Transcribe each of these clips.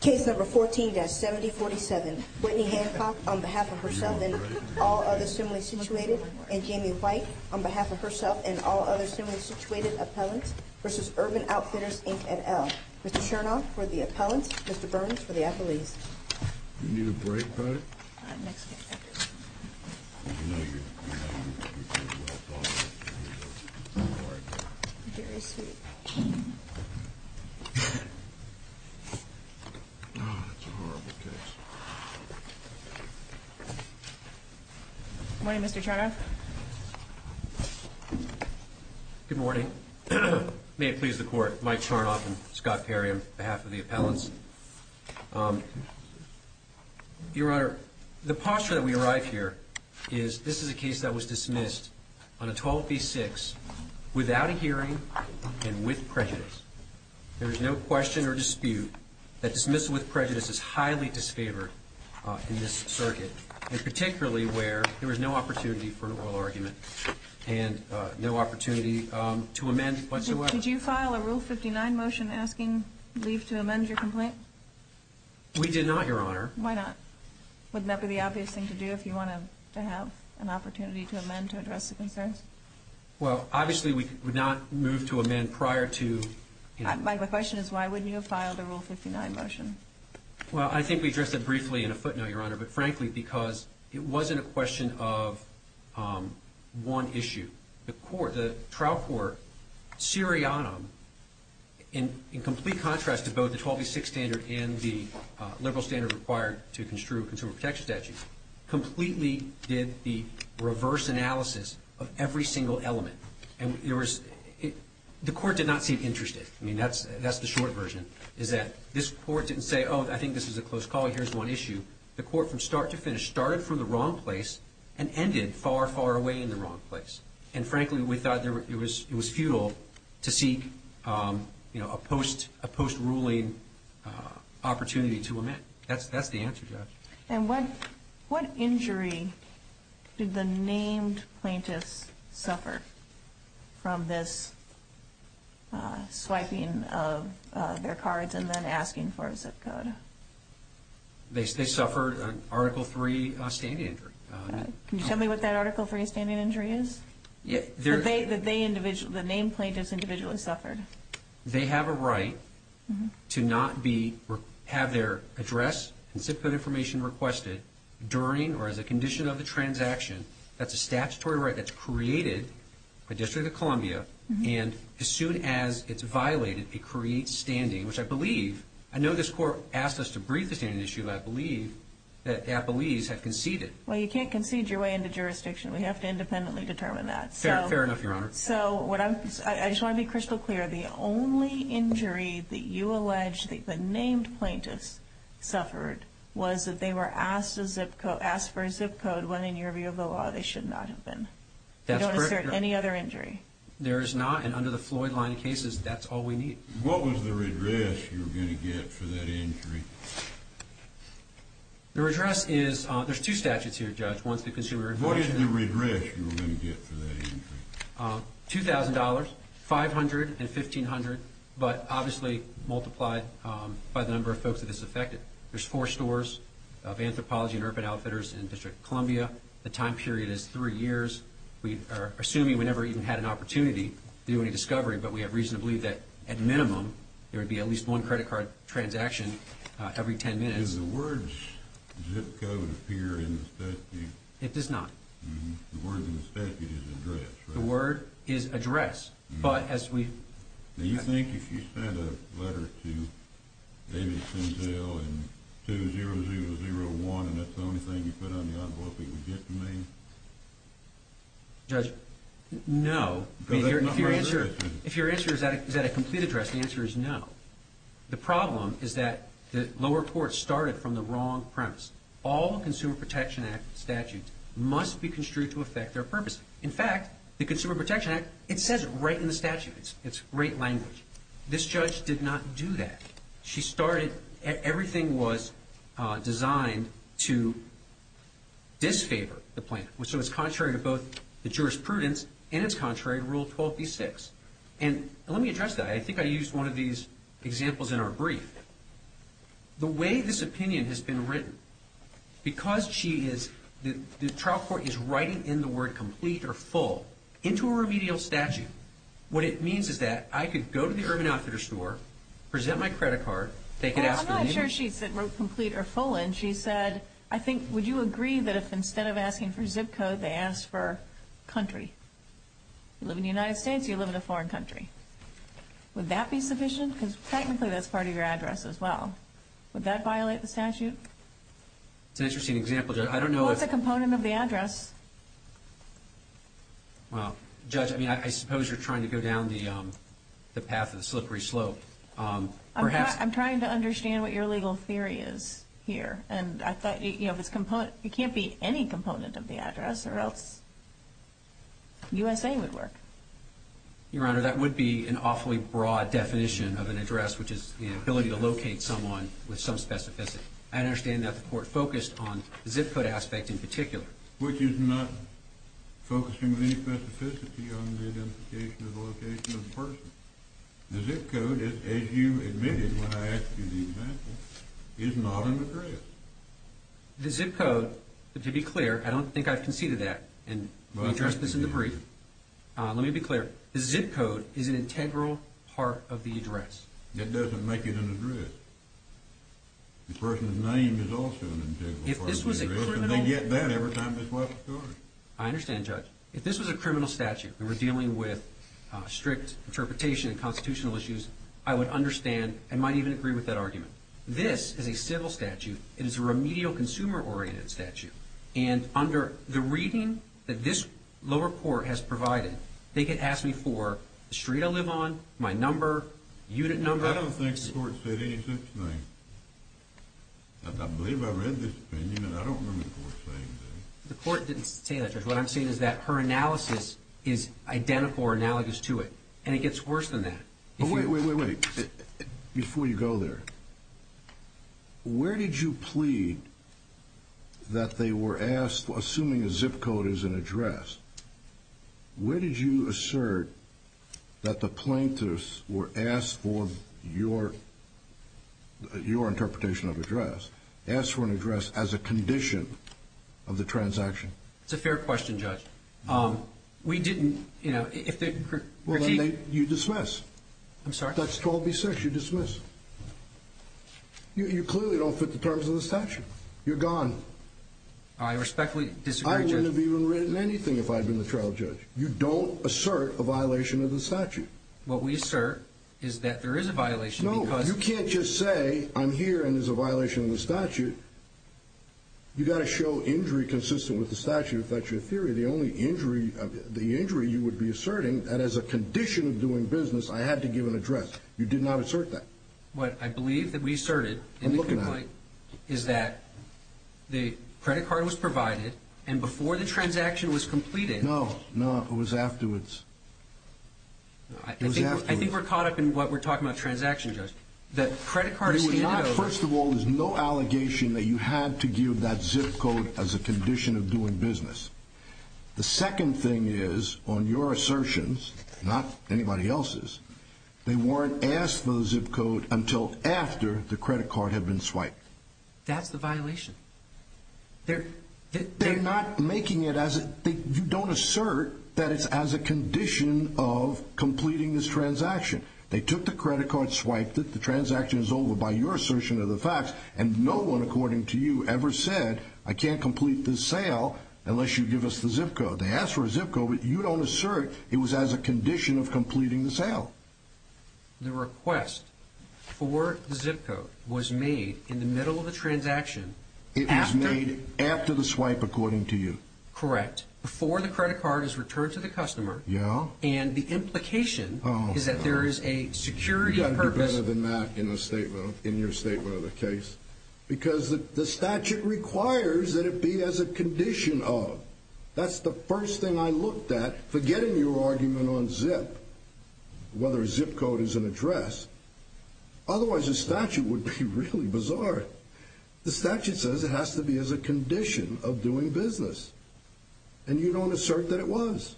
Case number 14-7047, Whitney Hancock on behalf of herself and all other similarly situated, and Jamie White on behalf of herself and all other similarly situated appellants, v. Urban Outfitters, Inc. et al. Mr. Chernoff for the appellants, Mr. Burns for the appellees. Good morning, Mr. Chernoff. Good morning. May it please the court, Mike Chernoff and Scott Perry on behalf of the appellants. Your Honor, the posture that we arrive here is this is a case that was dismissed on a 12 v. 6 without a hearing and with prejudice. There is no question or dispute that dismissal with prejudice is highly disfavored in this circuit, and particularly where there was no opportunity for an oral argument and no opportunity to amend whatsoever. Did you file a Rule 59 motion asking leave to amend your complaint? We did not, Your Honor. Why not? Wouldn't that be the obvious thing to do if you wanted to have an opportunity to amend to address the concerns? Well, obviously we would not move to amend prior to... My question is why wouldn't you have filed a Rule 59 motion? Well, I think we addressed it briefly in a footnote, Your Honor, but frankly because it wasn't a question of one issue. The trial court, seriatim, in complete contrast to both the 12 v. 6 standard and the liberal standard required to construe consumer protection statutes, completely did the reverse analysis of every single element. The court did not seem interested. I mean, that's the short version, is that this court didn't say, oh, I think this is a close call, here's one issue. The court from start to finish started from the wrong place and ended far, far away in the wrong place. And frankly, we thought it was futile to seek a post-ruling opportunity to amend. That's the answer, Judge. And what injury did the named plaintiffs suffer from this swiping of their cards and then asking for a zip code? They suffered an Article III standing injury. Can you tell me what that Article III standing injury is? That the named plaintiffs individually suffered? They have a right to not have their address and zip code information requested during or as a condition of the transaction. That's a statutory right that's created by the District of Columbia. And as soon as it's violated, it creates standing, which I believe, I know this court asked us to brief the standing issue, but I believe that Appellees have conceded. Well, you can't concede your way into jurisdiction. We have to independently determine that. Fair enough, Your Honor. So, I just want to be crystal clear. The only injury that you allege that the named plaintiffs suffered was that they were asked for a zip code when, in your view of the law, they should not have been. That's correct, Your Honor. Is there any other injury? There is not, and under the Floyd line of cases, that's all we need. What was the redress you were going to get for that injury? The redress is, there's two statutes here, Judge. What is the redress you were going to get for that injury? $2,000, $500, and $1,500, but obviously multiplied by the number of folks that this affected. There's four stores of Anthropology and Urban Outfitters in District of Columbia. The time period is three years. We are assuming we never even had an opportunity to do any discovery, but we have reason to believe that, at minimum, there would be at least one credit card transaction every 10 minutes. Does the word zip code appear in the statute? It does not. The word in the statute is address, right? The word is address, but as we… Do you think if you sent a letter to Davidson Hill in 2001 and that's the only thing you put on the envelope he would get from me? Judge, no. If your answer is that a complete address, the answer is no. The problem is that the lower court started from the wrong premise. All Consumer Protection Act statutes must be construed to affect their purpose. In fact, the Consumer Protection Act, it says it right in the statute. It's great language. This judge did not do that. She started… Everything was designed to disfavor the plan. So it's contrary to both the jurisprudence and it's contrary to Rule 12b-6. And let me address that. I think I used one of these examples in our brief. The way this opinion has been written, because she is… The trial court is writing in the word complete or full into a remedial statute. What it means is that I could go to the Urban Outfitters store, present my credit card. They could ask for the name. I'm not sure she wrote complete or full in. She said, I think, would you agree that if instead of asking for zip code they asked for country? You live in the United States, you live in a foreign country. Would that be sufficient? Because technically that's part of your address as well. Would that violate the statute? It's an interesting example, Judge. I don't know if… What's a component of the address? Well, Judge, I mean, I suppose you're trying to go down the path of the slippery slope. I'm trying to understand what your legal theory is here. And I thought, you know, if it's component… It can't be any component of the address or else USA would work. Your Honor, that would be an awfully broad definition of an address, which is the ability to locate someone with some specificity. I understand that the court focused on the zip code aspect in particular. Which is not focusing any specificity on the identification of the location of the person. The zip code, as you admitted when I asked you the example, is not an address. The zip code, to be clear, I don't think I've conceded that. And we addressed this in the brief. Let me be clear. The zip code is an integral part of the address. It doesn't make it an address. The person's name is also an integral part of the address. If this was a criminal… And they get that every time they swipe a card. I understand, Judge. If this was a criminal statute and we're dealing with strict interpretation and constitutional issues, I would understand and might even agree with that argument. This is a civil statute. It is a remedial consumer-oriented statute. And under the reading that this lower court has provided, they could ask me for the street I live on, my number, unit number. I don't think the court said any such thing. I believe I read this opinion. I don't remember the court saying anything. The court didn't say that, Judge. What I'm saying is that her analysis is identical or analogous to it. And it gets worse than that. Wait, wait, wait. Before you go there, where did you plead that they were asked, assuming a zip code is an address, where did you assert that the plaintiffs were asked for your interpretation of address, asked for an address as a condition of the transaction? It's a fair question, Judge. We didn't, you know, if the critique… You dismiss. I'm sorry? That's 12B6. You dismiss. You clearly don't fit the terms of the statute. You're gone. I respectfully disagree, Judge. I wouldn't have even written anything if I'd been the trial judge. You don't assert a violation of the statute. What we assert is that there is a violation because… No, you can't just say I'm here and there's a violation of the statute. You've got to show injury consistent with the statute of factual theory. The injury you would be asserting, that as a condition of doing business, I had to give an address. You did not assert that. What I believe that we asserted in the complaint… I'm looking at it. …is that the credit card was provided, and before the transaction was completed… No, no, it was afterwards. I think we're caught up in what we're talking about transaction, Judge. The credit card… First of all, there's no allegation that you had to give that zip code as a condition of doing business. The second thing is, on your assertions, not anybody else's, they weren't asked for the zip code until after the credit card had been swiped. That's the violation. They're not making it as a… You don't assert that it's as a condition of completing this transaction. They took the credit card, swiped it. The transaction is over by your assertion of the facts, and no one, according to you, ever said, I can't complete this sale unless you give us the zip code. They asked for a zip code, but you don't assert it was as a condition of completing the sale. The request for the zip code was made in the middle of the transaction after… It was made after the swipe, according to you. Correct. Before the credit card is returned to the customer. Yeah. And the implication is that there is a security purpose… Because the statute requires that it be as a condition of. That's the first thing I looked at, forgetting your argument on zip, whether a zip code is an address. Otherwise, the statute would be really bizarre. The statute says it has to be as a condition of doing business, and you don't assert that it was.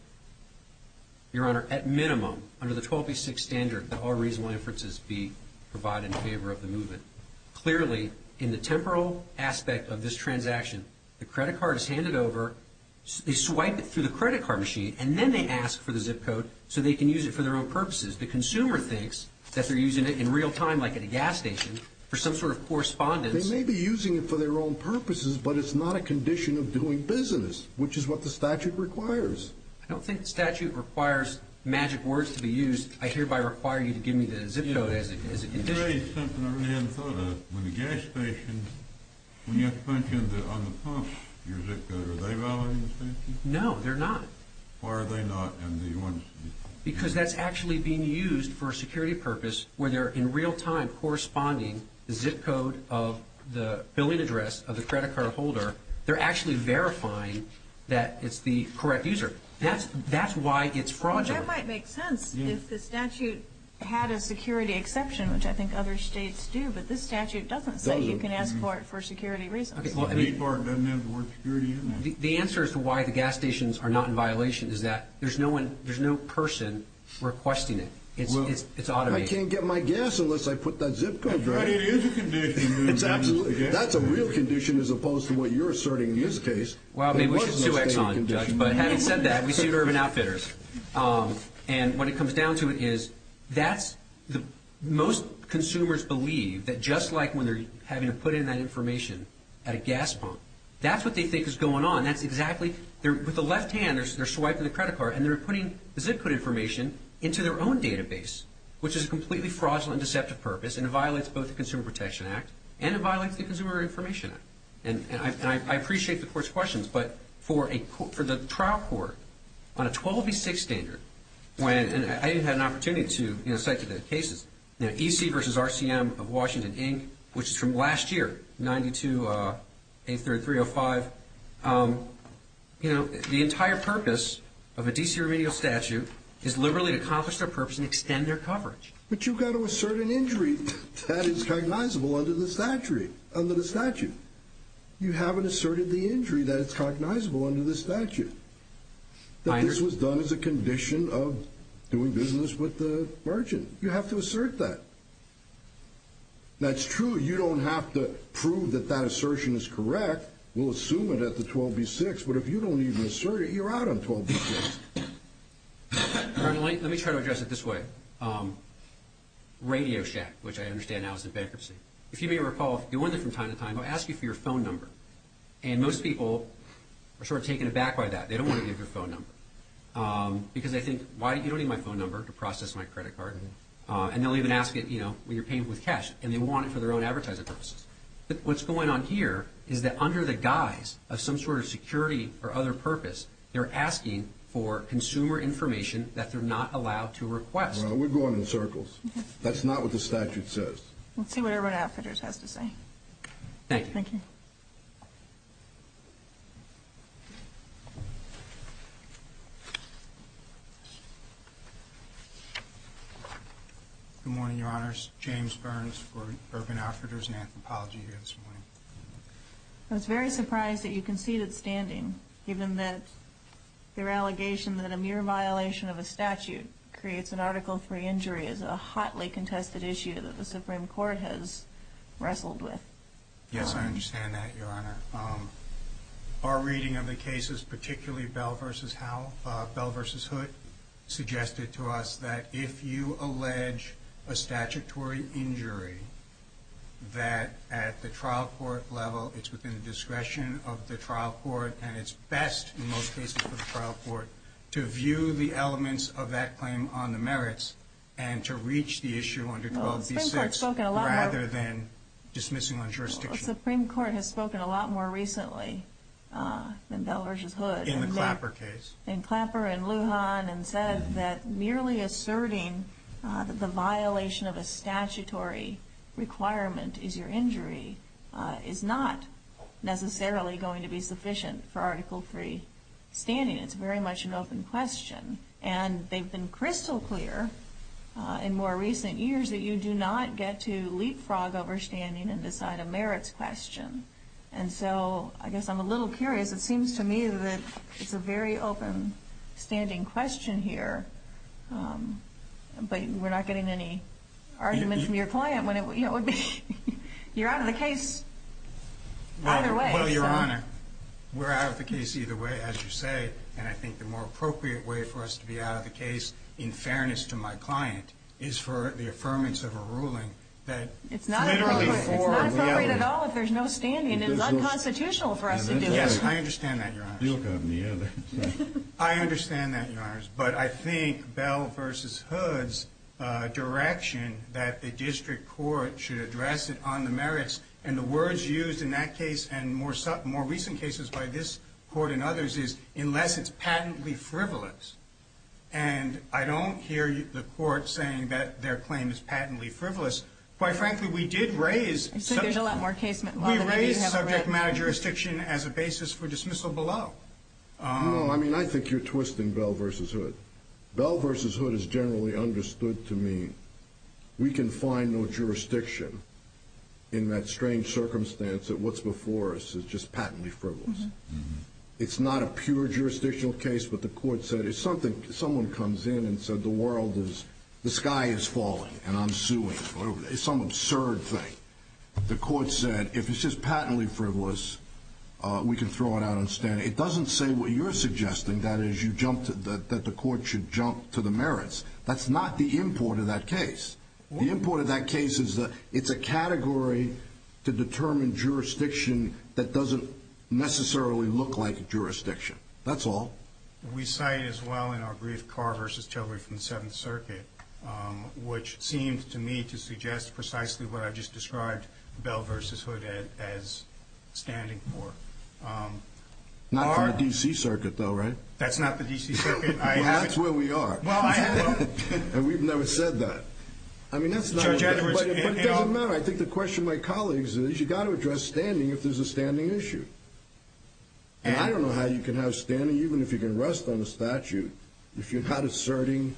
Your Honor, at minimum, under the 1286 standard, that all reasonable inferences be provided in favor of the movement. Clearly, in the temporal aspect of this transaction, the credit card is handed over, they swipe it through the credit card machine, and then they ask for the zip code so they can use it for their own purposes. The consumer thinks that they're using it in real time, like at a gas station, for some sort of correspondence. They may be using it for their own purposes, but it's not a condition of doing business, which is what the statute requires. I don't think the statute requires magic words to be used. I hereby require you to give me the zip code as a condition. You raised something I really hadn't thought of. When the gas station, when you have to punch in on the pump, your zip code, are they validating the statute? No, they're not. Why are they not? Because that's actually being used for a security purpose where they're in real time corresponding the zip code of the billing address of the credit card holder. They're actually verifying that it's the correct user. That's why it's fraudulent. That might make sense if the statute had a security exception, which I think other states do. But this statute doesn't say you can ask for it for security reasons. The State Department doesn't have the word security in there. The answer as to why the gas stations are not in violation is that there's no person requesting it. It's automated. I can't get my gas unless I put that zip code there. But it is a condition. That's a real condition as opposed to what you're asserting in this case. Well, maybe we should sue Exxon, Judge, but having said that, we sued Urban Outfitters. And what it comes down to is most consumers believe that just like when they're having to put in that information at a gas pump, that's what they think is going on. With the left hand, they're swiping the credit card, and they're putting the zip code information into their own database, which is a completely fraudulent and deceptive purpose, and it violates both the Consumer Protection Act and it violates the Consumer Information Act. And I appreciate the Court's questions, but for the trial court on a 12 v. 6 standard, and I even had an opportunity to cite the cases, EC v. RCM of Washington, Inc., which is from last year, 92A3305, the entire purpose of a DC remedial statute is liberally to accomplish their purpose and extend their coverage. But you've got to assert an injury that is cognizable under the statute. You haven't asserted the injury that is cognizable under the statute, that this was done as a condition of doing business with the merchant. You have to assert that. That's true. You don't have to prove that that assertion is correct. We'll assume it at the 12 v. 6, but if you don't even assert it, you're out on 12 v. 6. All right. Let me try to address it this way. Radio Shack, which I understand now is in bankruptcy, if you may recall, they wanted from time to time to ask you for your phone number. And most people are sort of taken aback by that. They don't want to give your phone number because they think, why, you don't need my phone number to process my credit card. And they'll even ask it, you know, when you're paying with cash, and they want it for their own advertising purposes. But what's going on here is that under the guise of some sort of security or other purpose, they're asking for consumer information that they're not allowed to request. Well, we're going in circles. That's not what the statute says. Let's see what Urban Outfitters has to say. Thank you. Thank you. Good morning, Your Honors. James Burns for Urban Outfitters and Anthropology here this morning. I was very surprised that you conceded standing, given that your allegation that a mere violation of a statute creates an Article III injury is a hotly contested issue that the Supreme Court has wrestled with. Yes, I understand that, Your Honor. Our reading of the cases, particularly Bell v. Hood, suggested to us that if you allege a statutory injury, that at the trial court level it's within the discretion of the trial court, and it's best in most cases for the trial court to view the elements of that claim on the merits and to reach the issue under 12b-6 rather than dismissing on jurisdiction. Well, the Supreme Court has spoken a lot more recently than Bell v. Hood. In the Clapper case. In Clapper and Lujan and said that merely asserting that the violation of a statutory requirement is your injury is not necessarily going to be sufficient for Article III standing. It's very much an open question. And they've been crystal clear in more recent years that you do not get to leapfrog overstanding and decide a merits question. And so I guess I'm a little curious. It seems to me that it's a very open standing question here. But we're not getting any argument from your client when it would be you're out of the case either way. Well, Your Honor, we're out of the case either way, as you say. And I think the more appropriate way for us to be out of the case, in fairness to my client, is for the affirmance of a ruling that literally for reality. It's not appropriate at all if there's no standing. And it's unconstitutional for us to do it. Yes, I understand that, Your Honor. I understand that, Your Honors. But I think Bell v. Hood's direction that the district court should address it on the merits, and the words used in that case and more recent cases by this court and others is unless it's patently frivolous. And I don't hear the court saying that their claim is patently frivolous. Quite frankly, we did raise subject matter jurisdiction as a basis for dismissal below. No, I mean, I think you're twisting Bell v. Hood. Bell v. Hood is generally understood to mean we can find no jurisdiction in that strange circumstance that what's before us is just patently frivolous. It's not a pure jurisdictional case. But the court said if someone comes in and said the world is, the sky is falling and I'm suing, it's some absurd thing. The court said if it's just patently frivolous, we can throw it out on the stand. It doesn't say what you're suggesting, that is, that the court should jump to the merits. That's not the import of that case. The import of that case is it's a category to determine jurisdiction that doesn't necessarily look like jurisdiction. That's all. We cite as well in our brief Carr v. Tillery from the Seventh Circuit, which seemed to me to suggest precisely what I just described Bell v. Hood as standing for. Not for the D.C. Circuit, though, right? That's not the D.C. Circuit. That's where we are. And we've never said that. But it doesn't matter. I think the question, my colleagues, is you've got to address standing if there's a standing issue. And I don't know how you can have standing, even if you can rest on a statute, if you're not asserting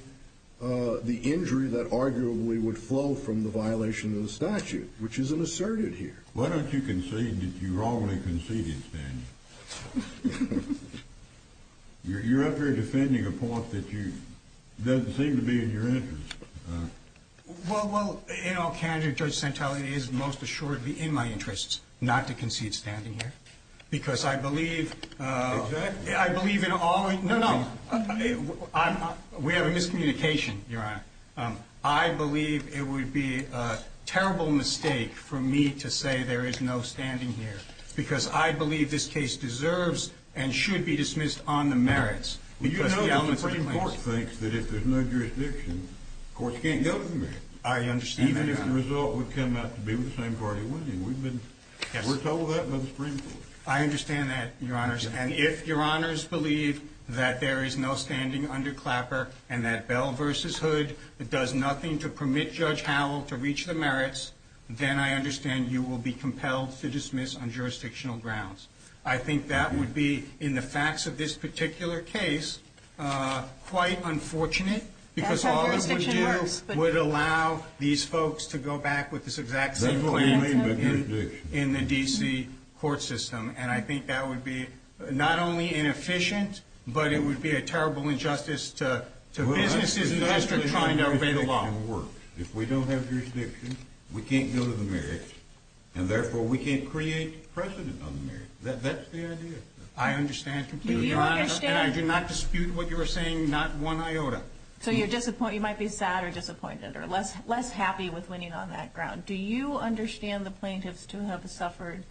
the injury that arguably would flow from the violation of the statute, which isn't asserted here. Why don't you concede that you wrongly conceded standing? You're up here defending a point that doesn't seem to be in your interest. Well, in all candor, Judge Santelli, it is most assuredly in my interest not to concede standing here, because I believe in all we can do. No, no. We have a miscommunication, Your Honor. I believe it would be a terrible mistake for me to say there is no standing here, because I believe this case deserves and should be dismissed on the merits. Well, you know the Supreme Court thinks that if there's no jurisdiction, courts can't go to the merits. I understand that, Your Honor. Even if the result would come out to be the same party winning. We've been told that by the Supreme Court. I understand that, Your Honors. And if Your Honors believe that there is no standing under Clapper and that Bell v. Hood does nothing to permit Judge Howell to reach the merits, then I understand you will be compelled to dismiss on jurisdictional grounds. I think that would be, in the facts of this particular case, quite unfortunate, because all it would do would allow these folks to go back with this exact same claim in the D.C. court system. And I think that would be not only inefficient, but it would be a terrible injustice to businesses in the district trying to obey the law. If we don't have jurisdiction, we can't go to the merits, and therefore we can't create precedent on the merits. That's the idea. I understand completely. And I do not dispute what you are saying, not one iota. So you might be sad or disappointed or less happy with winning on that ground. Do you understand the plaintiffs to have suffered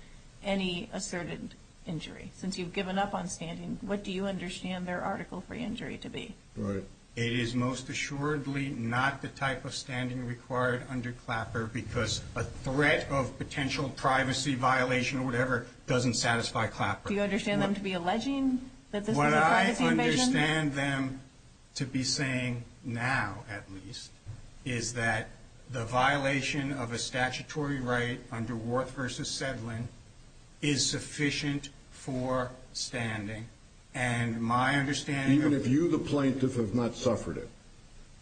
any asserted injury? Since you've given up on standing, what do you understand their article for injury to be? It is most assuredly not the type of standing required under Clapper because a threat of potential privacy violation or whatever doesn't satisfy Clapper. Do you understand them to be alleging that this is a privacy invasion? What I understand them to be saying now, at least, is that the violation of a statutory right under Worth v. Sedlin is sufficient for standing. Even if you, the plaintiff, have not suffered it?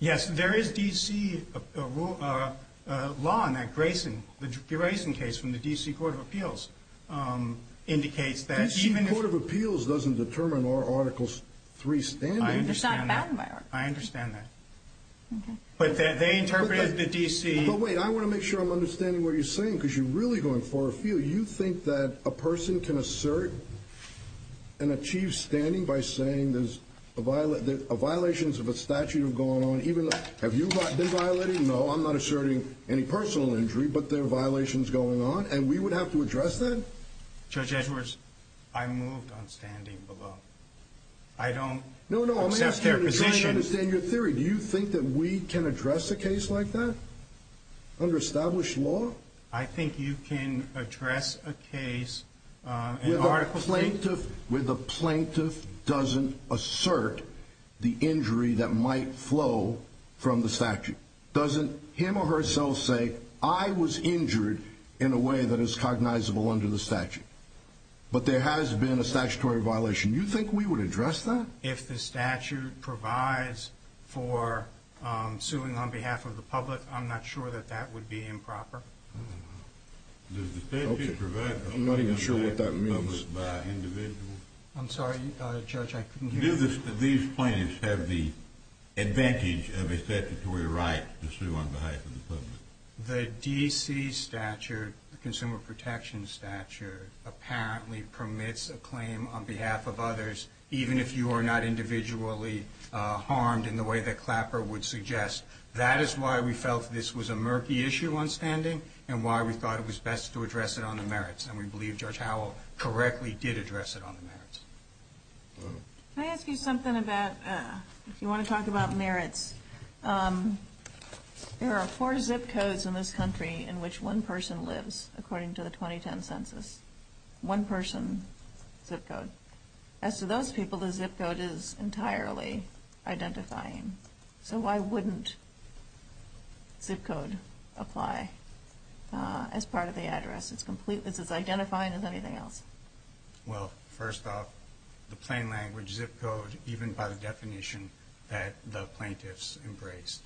Yes, there is D.C. law on that. The Grayson case from the D.C. Court of Appeals indicates that even if— The D.C. Court of Appeals doesn't determine our Article 3 standing. I understand that. But they interpreted the D.C. Wait, I want to make sure I'm understanding what you're saying because you're really going far afield. Do you think that a person can assert and achieve standing by saying there's a violation of a statute going on? Have you been violated? No, I'm not asserting any personal injury, but there are violations going on, and we would have to address that? Judge Edwards, I moved on standing below. No, no, I'm asking you to clearly understand your theory. Do you think that we can address a case like that under established law? I think you can address a case— Where the plaintiff doesn't assert the injury that might flow from the statute? Doesn't him or herself say, I was injured in a way that is cognizable under the statute? But there has been a statutory violation. Do you think we would address that? If the statute provides for suing on behalf of the public, I'm not sure that that would be improper. I'm not even sure what that means. I'm sorry, Judge, I couldn't hear you. Do these plaintiffs have the advantage of a statutory right to sue on behalf of the public? The D.C. Statute, the Consumer Protection Statute, apparently permits a claim on behalf of others, even if you are not individually harmed in the way that Clapper would suggest. That is why we felt this was a murky issue on standing and why we thought it was best to address it on the merits, and we believe Judge Howell correctly did address it on the merits. Can I ask you something about—if you want to talk about merits? Yes. There are four zip codes in this country in which one person lives, according to the 2010 census. One person zip code. As to those people, the zip code is entirely identifying. So why wouldn't zip code apply as part of the address? It's as identifying as anything else. Well, first off, the plain language zip code, even by the definition that the plaintiffs embraced,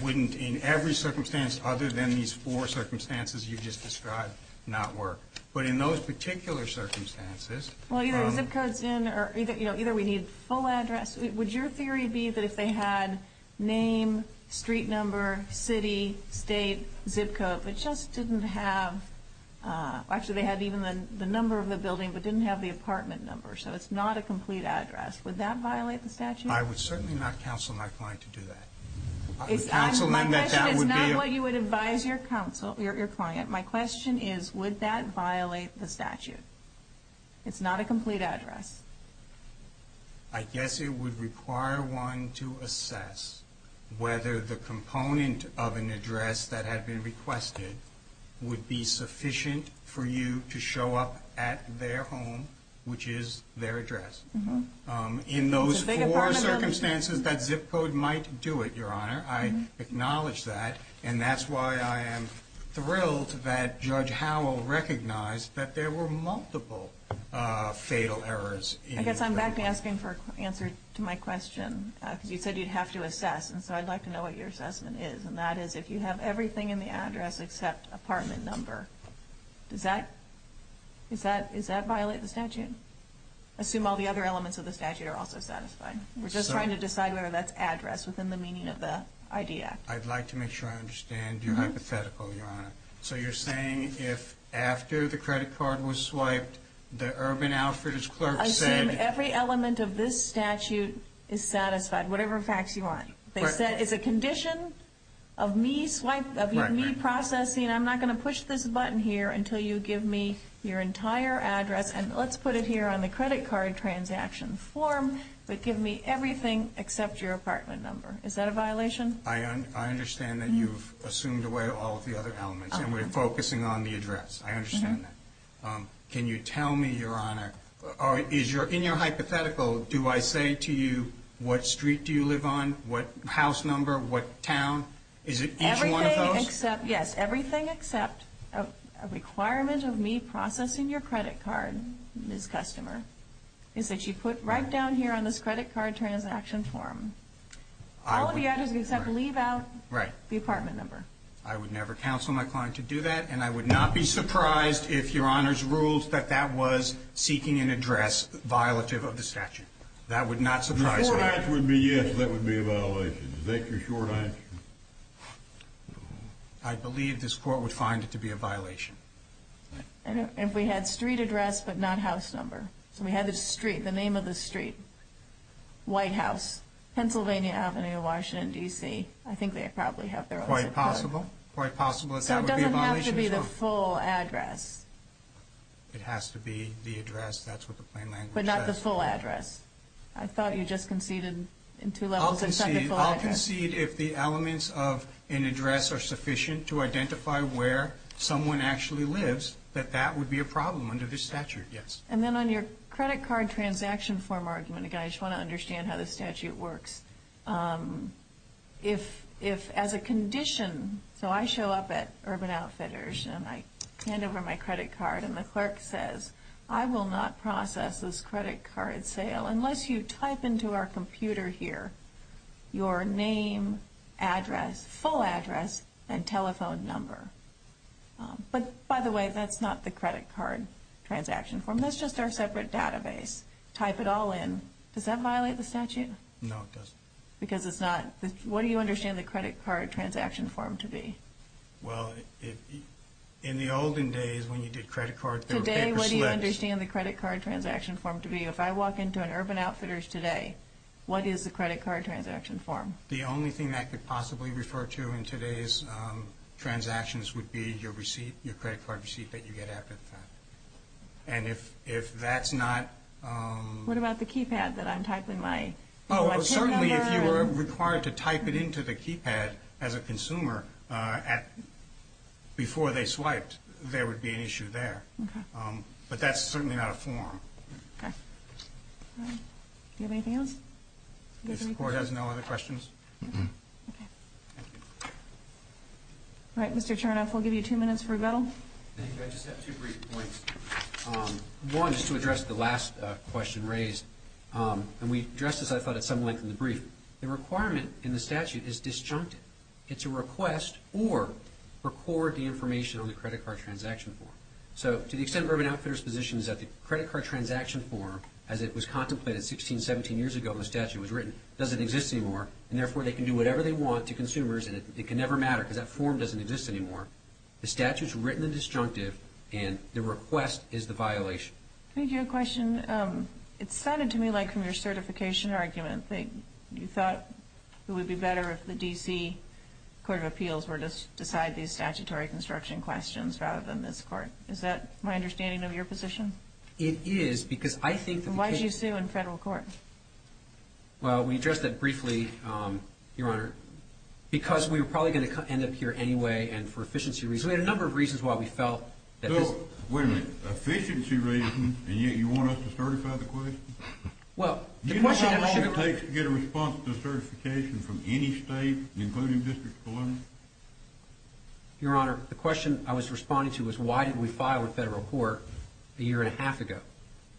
wouldn't in every circumstance other than these four circumstances you just described not work. But in those particular circumstances— Well, either the zip code's in or either we need a full address. Would your theory be that if they had name, street number, city, state, zip code, but just didn't have—actually, they had even the number of the building but didn't have the apartment number, so it's not a complete address, would that violate the statute? I would certainly not counsel my client to do that. It's not what you would advise your client. My question is, would that violate the statute? It's not a complete address. I guess it would require one to assess whether the component of an address that had been requested would be sufficient for you to show up at their home, which is their address. In those four circumstances, that zip code might do it, Your Honor. I acknowledge that. And that's why I am thrilled that Judge Howell recognized that there were multiple fatal errors. I guess I'm back to asking for an answer to my question because you said you'd have to assess, and so I'd like to know what your assessment is, and that is if you have everything in the address except apartment number, does that violate the statute? Assume all the other elements of the statute are also satisfied. We're just trying to decide whether that's address within the meaning of the ID Act. I'd like to make sure I understand your hypothetical, Your Honor. So you're saying if after the credit card was swiped, the Urban Alfreds clerk said— Assume every element of this statute is satisfied, whatever facts you want. They said it's a condition of me processing. I'm not going to push this button here until you give me your entire address, and let's put it here on the credit card transaction form, but give me everything except your apartment number. Is that a violation? I understand that you've assumed away all of the other elements, and we're focusing on the address. I understand that. Can you tell me, Your Honor, in your hypothetical, do I say to you what street do you live on, what house number, what town? Is it each one of those? Everything except, yes, everything except a requirement of me processing your credit card, Ms. Customer, is that you put right down here on this credit card transaction form. All of the address except leave out the apartment number. I would never counsel my client to do that, and I would not be surprised if Your Honor's rules that that was seeking an address violative of the statute. That would not surprise me. The short answer would be yes, that would be a violation. Is that your short answer? I believe this Court would find it to be a violation. If we had street address but not house number. So we had the street, the name of the street, White House, Pennsylvania Avenue, Washington, D.C. I think they probably have their own zip code. Quite possible. So it doesn't have to be the full address. It has to be the address, that's what the plain language says. But not the full address. I thought you just conceded in two levels except the full address. I'll concede if the elements of an address are sufficient to identify where someone actually lives, that that would be a problem under this statute, yes. And then on your credit card transaction form argument, again, I just want to understand how the statute works. If as a condition, so I show up at Urban Outfitters, and I hand over my credit card, and the clerk says, I will not process this credit card sale unless you type into our computer here your name, address, full address, and telephone number. But by the way, that's not the credit card transaction form. That's just our separate database. Type it all in. Does that violate the statute? No, it doesn't. Because it's not, what do you understand the credit card transaction form to be? Well, in the olden days, when you did credit cards, there were paper slips. Today, what do you understand the credit card transaction form to be? If I walk into an Urban Outfitters today, what is the credit card transaction form? The only thing that I could possibly refer to in today's transactions would be your receipt, your credit card receipt that you get after the fact. And if that's not… What about the keypad that I'm typing my… Oh, certainly if you were required to type it into the keypad as a consumer before they swiped, there would be an issue there. But that's certainly not a form. Okay. Do you have anything else? If the Court has no other questions. Okay. Thank you. All right, Mr. Chernoff, we'll give you two minutes for rebuttal. Thank you. I just have two brief points. One is to address the last question raised. And we addressed this, I thought, at some length in the brief. The requirement in the statute is disjunctive. It's a request or record the information on the credit card transaction form. So to the extent Urban Outfitters' position is that the credit card transaction form, as it was contemplated 16, 17 years ago when the statute was written, doesn't exist anymore, and therefore they can do whatever they want to consumers and it can never matter because that form doesn't exist anymore. The statute's written and disjunctive, and the request is the violation. Can I give you a question? It sounded to me like from your certification argument that you thought it would be better if the D.C. Court of Appeals were to decide these statutory construction questions rather than this Court. Is that my understanding of your position? It is, because I think that the case— Then why did you sue in federal court? Well, we addressed that briefly, Your Honor, because we were probably going to end up here anyway, and for efficiency reasons. We had a number of reasons why we felt that this— Wait a minute. Efficiency reasons, and yet you want us to certify the question? Do you know how long it takes to get a response to a certification from any state, including District 11? Your Honor, the question I was responding to was, why didn't we file a federal court a year and a half ago?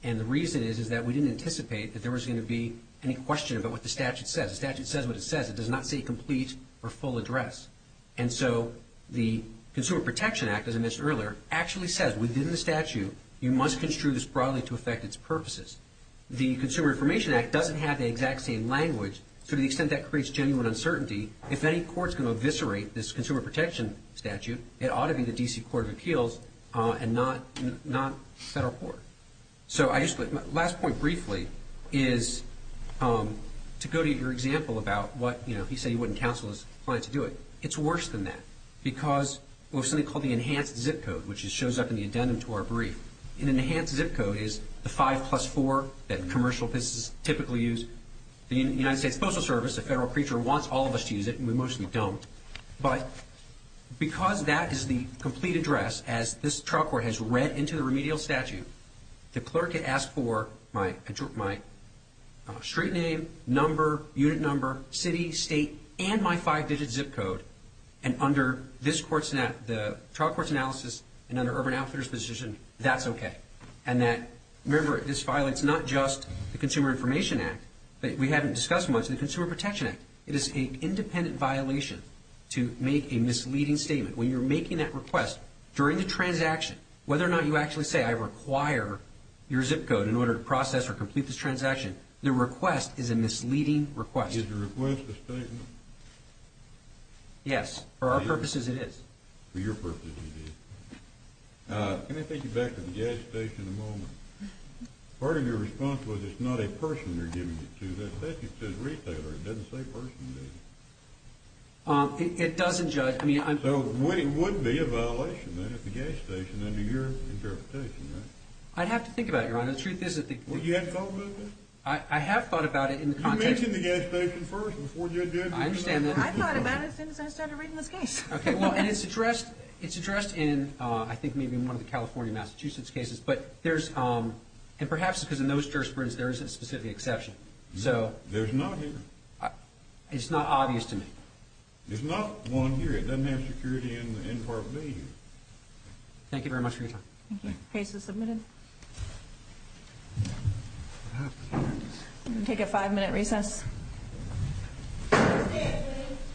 And the reason is that we didn't anticipate that there was going to be any question about what the statute says. The statute says what it says. It does not say complete or full address. And so the Consumer Protection Act, as I mentioned earlier, actually says within the statute, you must construe this broadly to affect its purposes. The Consumer Information Act doesn't have the exact same language to the extent that creates genuine uncertainty. If any court is going to eviscerate this Consumer Protection statute, it ought to be the D.C. Court of Appeals and not federal court. So I just— Last point briefly is to go to your example about what, you know, he said he wouldn't counsel his client to do it. It's worse than that because of something called the enhanced zip code, which shows up in the addendum to our brief. An enhanced zip code is the 5 plus 4 that commercial businesses typically use. The United States Postal Service, a federal creature, wants all of us to use it, and we mostly don't. But because that is the complete address, as this trial court has read into the remedial statute, the clerk had asked for my street name, number, unit number, city, state, and my 5-digit zip code, and under this court's analysis and under Urban Outfitters' position, that's okay. And that, remember, this violates not just the Consumer Information Act, that we haven't discussed much, the Consumer Protection Act. It is an independent violation to make a misleading statement. When you're making that request during the transaction, whether or not you actually say, I require your zip code in order to process or complete this transaction, the request is a misleading request. Is the request a statement? Yes. For our purposes, it is. For your purposes, it is. Can I take you back to the gas station a moment? Part of your response was it's not a person they're giving it to. That says it says retailer. It doesn't say person, does it? It doesn't judge. So it would be a violation, then, at the gas station, under your interpretation, right? I'd have to think about it, Your Honor. You haven't thought about that? I have thought about it in the context. Did you mention the gas station first before you addressed it? I understand that. I thought about it since I started reading this case. Okay. Well, and it's addressed in, I think, maybe one of the California-Massachusetts cases. But there's – and perhaps because in those jurisprudence, there is a specific exception. There's not here. It's not obvious to me. There's not one here. It doesn't have security in Part B here. Thank you very much for your time. Thank you. Case is submitted. Thank you. We'll take a five-minute recess.